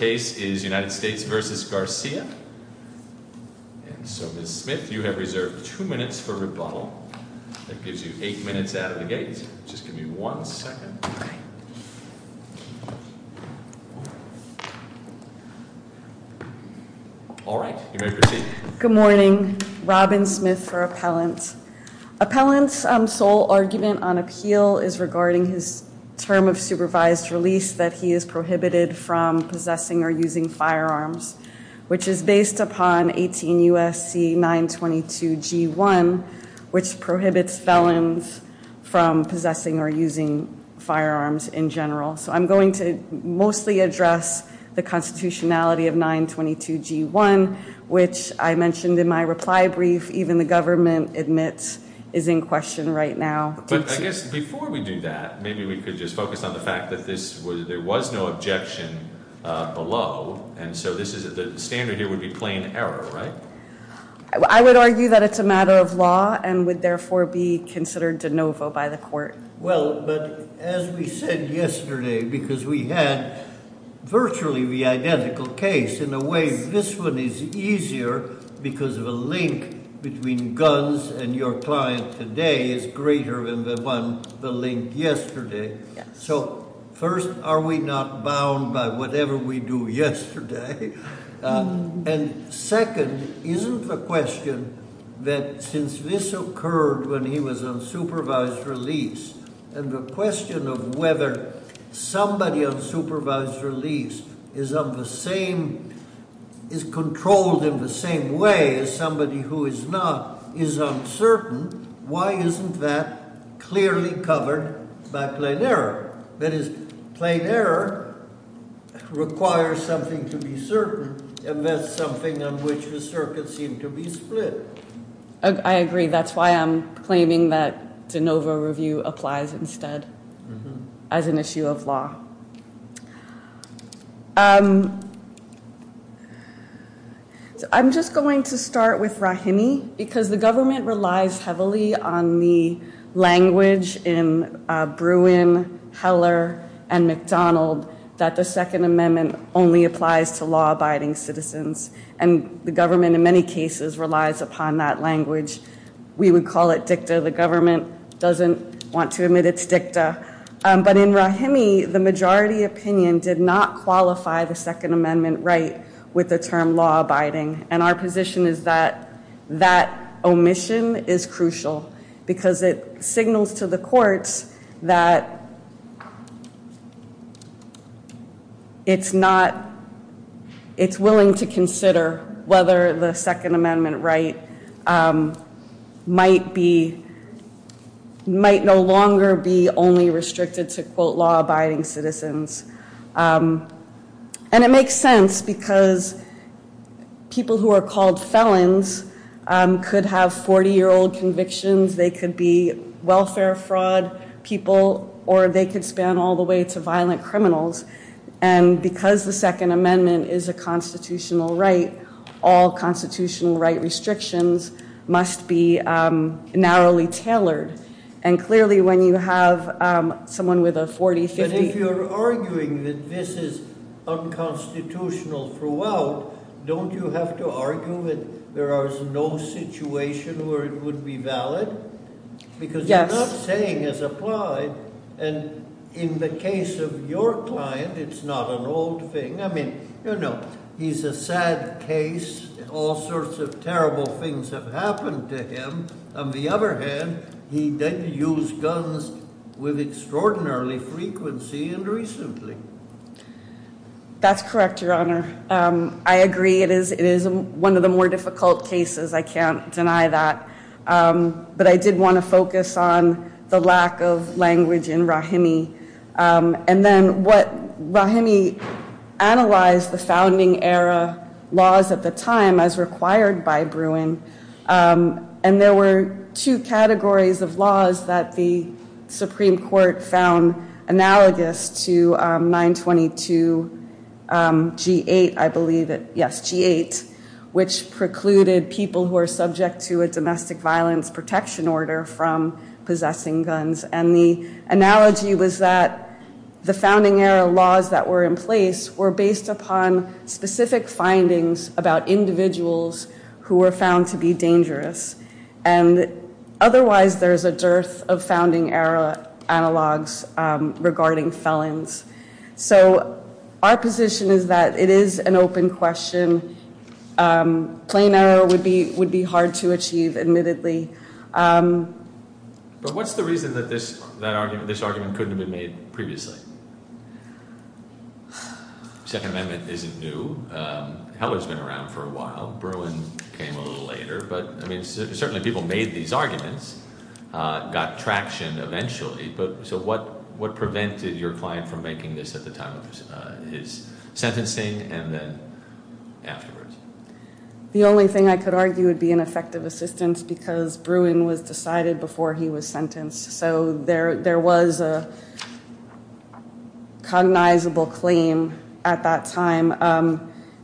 So Ms. Smith, you have reserved 2 minutes for rebuttal. That gives you 8 minutes out of the gate. Just give me 1 second. Alright, you may proceed. Good morning. Robin Smith for Appellant. Appellant's sole argument on appeal is regarding his term of supervised release that he is prohibited from possessing or using firearms, which is based upon 18 U.S.C. 922 G.1, which prohibits felons from possessing or using firearms in general. So I'm going to mostly address the constitutionality of 922 G.1, which I mentioned in my reply brief. Even the government admits is in question right now. But I guess before we do that, maybe we could just focus on the fact that there was no objection below. And so the standard here would be plain error, right? I would argue that it's a matter of law and would therefore be considered de novo by the court. Well, but as we said yesterday, because we had virtually the identical case in a way, this one is easier because of a link between guns and your client today is greater than the one, the link yesterday. So first, are we not bound by whatever we do yesterday? And second, isn't the question that since this occurred when he was on supervised release, and the question of whether somebody on supervised release is on the same, is controlled in the same way as somebody who is not is uncertain. Why isn't that clearly covered by plain error? That is, plain error requires something to be certain, and that's something on which the circuits seem to be split. I agree. That's why I'm claiming that de novo review applies instead as an issue of law. I'm just going to start with Rahimi, because the government relies heavily on the language in Bruin, Heller, and McDonald, that the Second Amendment only applies to law-abiding citizens. And the government in many cases relies upon that language. We would call it dicta. The government doesn't want to admit it's dicta. But in Rahimi, the majority opinion did not qualify the Second Amendment right with the term law-abiding, and our position is that that omission is crucial because it signals to the courts that it's not, it's willing to consider whether the Second Amendment right might be, might no longer be only restricted to, quote, law-abiding citizens. And it makes sense because people who are called felons could have 40-year-old convictions, they could be welfare fraud people, or they could span all the way to violent criminals. And because the Second Amendment is a constitutional right, all constitutional right restrictions must be narrowly tailored. And clearly when you have someone with a 40, 50... But if you're arguing that this is unconstitutional throughout, don't you have to argue that there is no situation where it would be valid? Yes. What you're not saying is applied. And in the case of your client, it's not an old thing. I mean, you know, he's a sad case. All sorts of terrible things have happened to him. On the other hand, he did use guns with extraordinary frequency and recently. That's correct, Your Honor. I agree it is one of the more difficult cases. I can't deny that. But I did want to focus on the lack of language in Rahimi. And then what Rahimi analyzed the founding era laws at the time as required by Bruin. And there were two categories of laws that the Supreme Court found analogous to 922 G8, I believe it. Yes, G8, which precluded people who are subject to a domestic violence protection order from possessing guns. And the analogy was that the founding era laws that were in place were based upon specific findings about individuals who were found to be dangerous. And otherwise, there is a dearth of founding era analogs regarding felons. So our position is that it is an open question. Plain error would be hard to achieve, admittedly. But what's the reason that this argument couldn't have been made previously? Second Amendment isn't new. Heller's been around for a while. Bruin came a little later. But, I mean, certainly people made these arguments, got traction eventually. But so what prevented your client from making this at the time of his sentencing and then afterwards? The only thing I could argue would be an effective assistance because Bruin was decided before he was sentenced. So there was a cognizable claim at that time.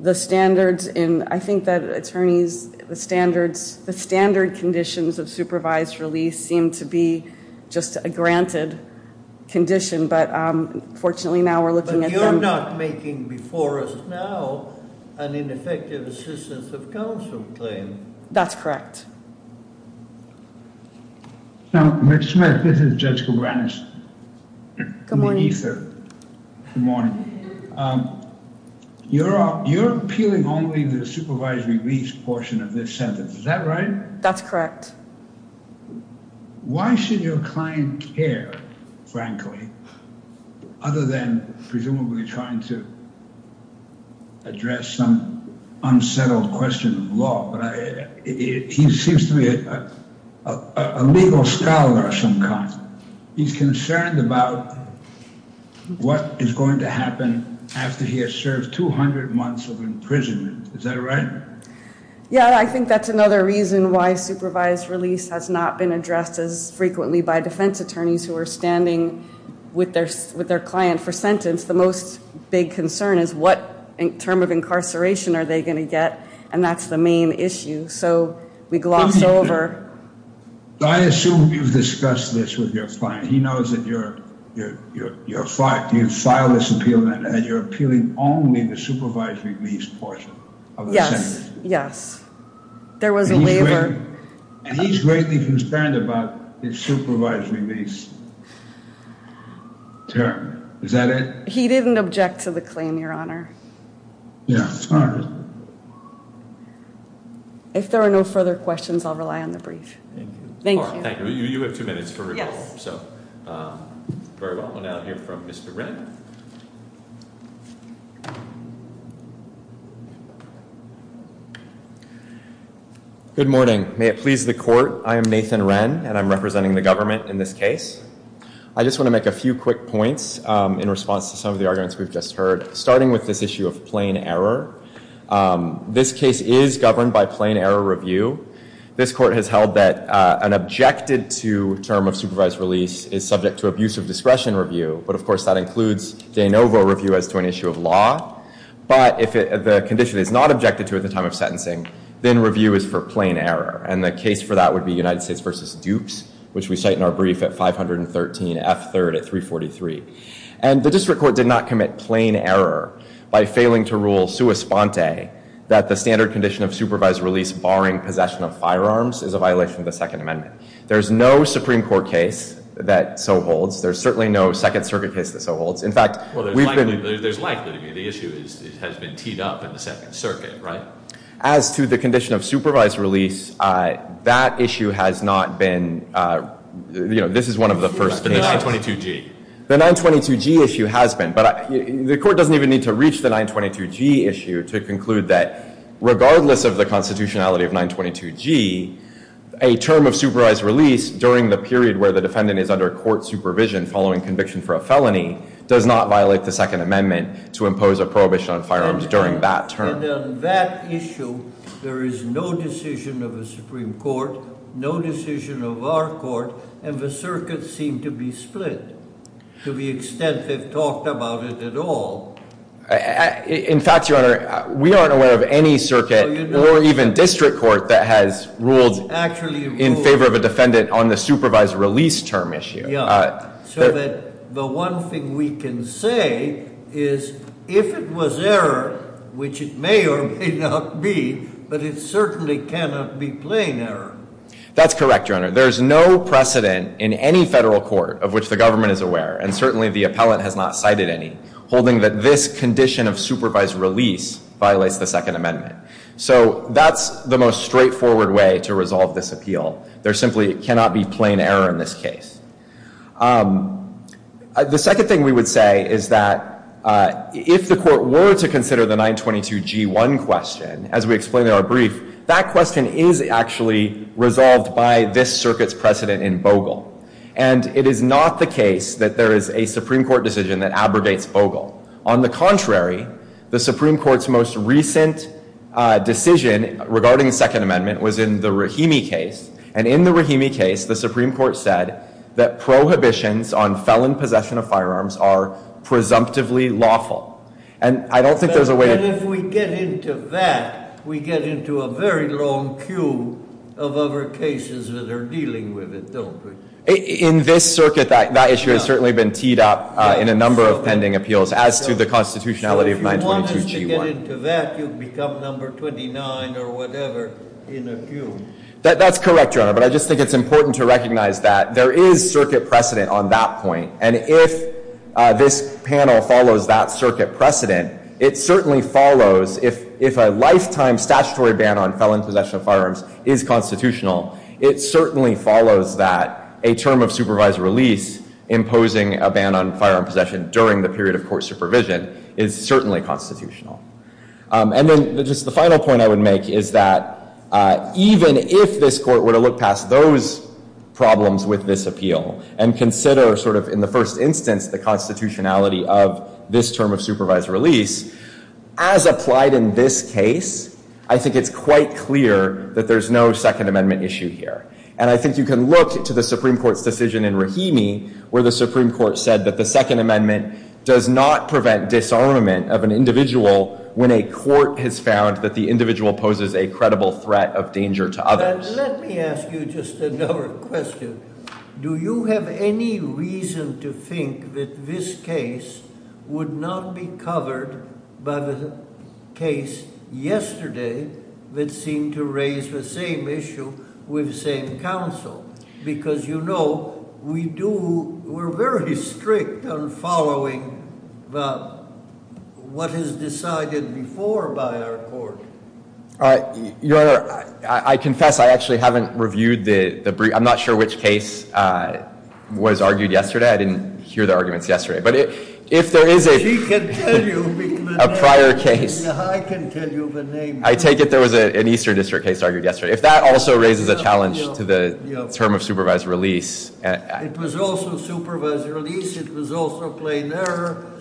The standards in, I think that attorneys, the standards, the standard conditions of supervised release seem to be just a granted condition. But, fortunately, now we're looking at them. But you're not making before us now an ineffective assistance of counsel claim. That's correct. Now, Ms. Smith, this is Judge Kobanis. Good morning. Good morning. You're appealing only the supervised release portion of this sentence. Is that right? That's correct. Why should your client care, frankly, other than presumably trying to address some unsettled question of law? He seems to be a legal scholar of some kind. He's concerned about what is going to happen after he has served 200 months of imprisonment. Is that right? Yeah, I think that's another reason why supervised release has not been addressed as frequently by defense attorneys who are standing with their client for sentence. I think it's the most big concern is what term of incarceration are they going to get? And that's the main issue. So we gloss over. I assume you've discussed this with your client. He knows that you filed this appeal and you're appealing only the supervised release portion of the sentence. Yes, yes. There was a waiver. And he's greatly concerned about his supervised release term. Is that it? He didn't object to the claim, Your Honor. Yeah, sorry. If there are no further questions, I'll rely on the brief. Thank you. Thank you. You have two minutes for rebuttal. Very well. We'll now hear from Mr. Wren. Good morning. May it please the court. I am Nathan Wren, and I'm representing the government in this case. I just want to make a few quick points in response to some of the arguments we've just heard, starting with this issue of plain error. This case is governed by plain error review. This court has held that an objected-to term of supervised release is subject to abuse of discretion review. But, of course, that includes de novo review as to an issue of law. But if the condition is not objected to at the time of sentencing, then review is for plain error. And the case for that would be United States v. Dukes, which we cite in our brief at 513 F. 3rd at 343. And the district court did not commit plain error by failing to rule sua sponte that the standard condition of supervised release barring possession of firearms is a violation of the Second Amendment. There's no Supreme Court case that so holds. There's certainly no Second Circuit case that so holds. In fact, we've been – Well, there's likely to be. The issue has been teed up in the Second Circuit, right? As to the condition of supervised release, that issue has not been – you know, this is one of the first cases. The 922G. The 922G issue has been. But the court doesn't even need to reach the 922G issue to conclude that regardless of the constitutionality of 922G, a term of supervised release during the period where the defendant is under court supervision following conviction for a felony does not violate the Second Amendment to impose a prohibition on firearms during that term. And on that issue, there is no decision of the Supreme Court, no decision of our court, and the circuits seem to be split to the extent they've talked about it at all. In fact, Your Honor, we aren't aware of any circuit or even district court that has ruled in favor of a defendant on the supervised release term issue. So that the one thing we can say is if it was error, which it may or may not be, but it certainly cannot be plain error. That's correct, Your Honor. There's no precedent in any federal court of which the government is aware, and certainly the appellant has not cited any, holding that this condition of supervised release violates the Second Amendment. So that's the most straightforward way to resolve this appeal. There simply cannot be plain error in this case. The second thing we would say is that if the court were to consider the 922G1 question, as we explained in our brief, that question is actually resolved by this circuit's precedent in Bogle. And it is not the case that there is a Supreme Court decision that abrogates Bogle. On the contrary, the Supreme Court's most recent decision regarding the Second Amendment was in the Rahimi case. And in the Rahimi case, the Supreme Court said that prohibitions on felon possession of firearms are presumptively lawful. And I don't think there's a way— But if we get into that, we get into a very long queue of other cases that are dealing with it, don't we? In this circuit, that issue has certainly been teed up in a number of pending appeals as to the constitutionality of 922G1. So if you wanted to get into that, you'd become number 29 or whatever in a queue. That's correct, Your Honor. But I just think it's important to recognize that there is circuit precedent on that point. And if this panel follows that circuit precedent, it certainly follows if a lifetime statutory ban on felon possession of firearms is constitutional, it certainly follows that a term of supervised release imposing a ban on firearm possession during the period of court supervision is certainly constitutional. And then just the final point I would make is that even if this Court were to look past those problems with this appeal and consider sort of in the first instance the constitutionality of this term of supervised release, as applied in this case, I think it's quite clear that there's no Second Amendment issue here. And I think you can look to the Supreme Court's decision in Rahimi where the Supreme Court said that the Second Amendment does not prevent disarmament of an individual when a court has found that the individual poses a credible threat of danger to others. Let me ask you just another question. Do you have any reason to think that this case would not be covered by the case yesterday that seemed to raise the same issue with the same counsel? Because, you know, we're very strict on following what is decided before by our court. Your Honor, I confess I actually haven't reviewed the brief. I'm not sure which case was argued yesterday. I didn't hear the arguments yesterday. But if there is a prior case, I take it there was an Eastern District case argued yesterday. If that also raises a challenge to the term of supervised release. It was also supervised release. It was also plain error.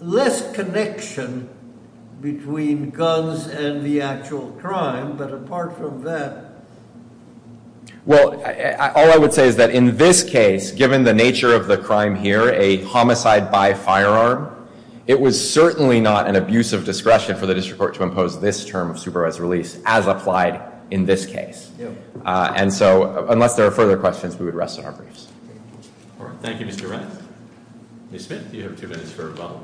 Less connection between guns and the actual crime. But apart from that. Well, all I would say is that in this case, given the nature of the crime here, a homicide by firearm, it was certainly not an abuse of discretion for the district court to impose this term of supervised release as applied in this case. And so unless there are further questions, we would rest on our briefs. All right. Thank you, Mr. Wright. Ms. Smith, you have two minutes for a vote.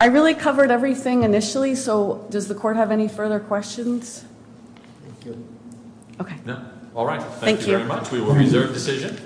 I really covered everything initially. So does the court have any further questions? Okay. All right. Thank you very much. We will reserve decision.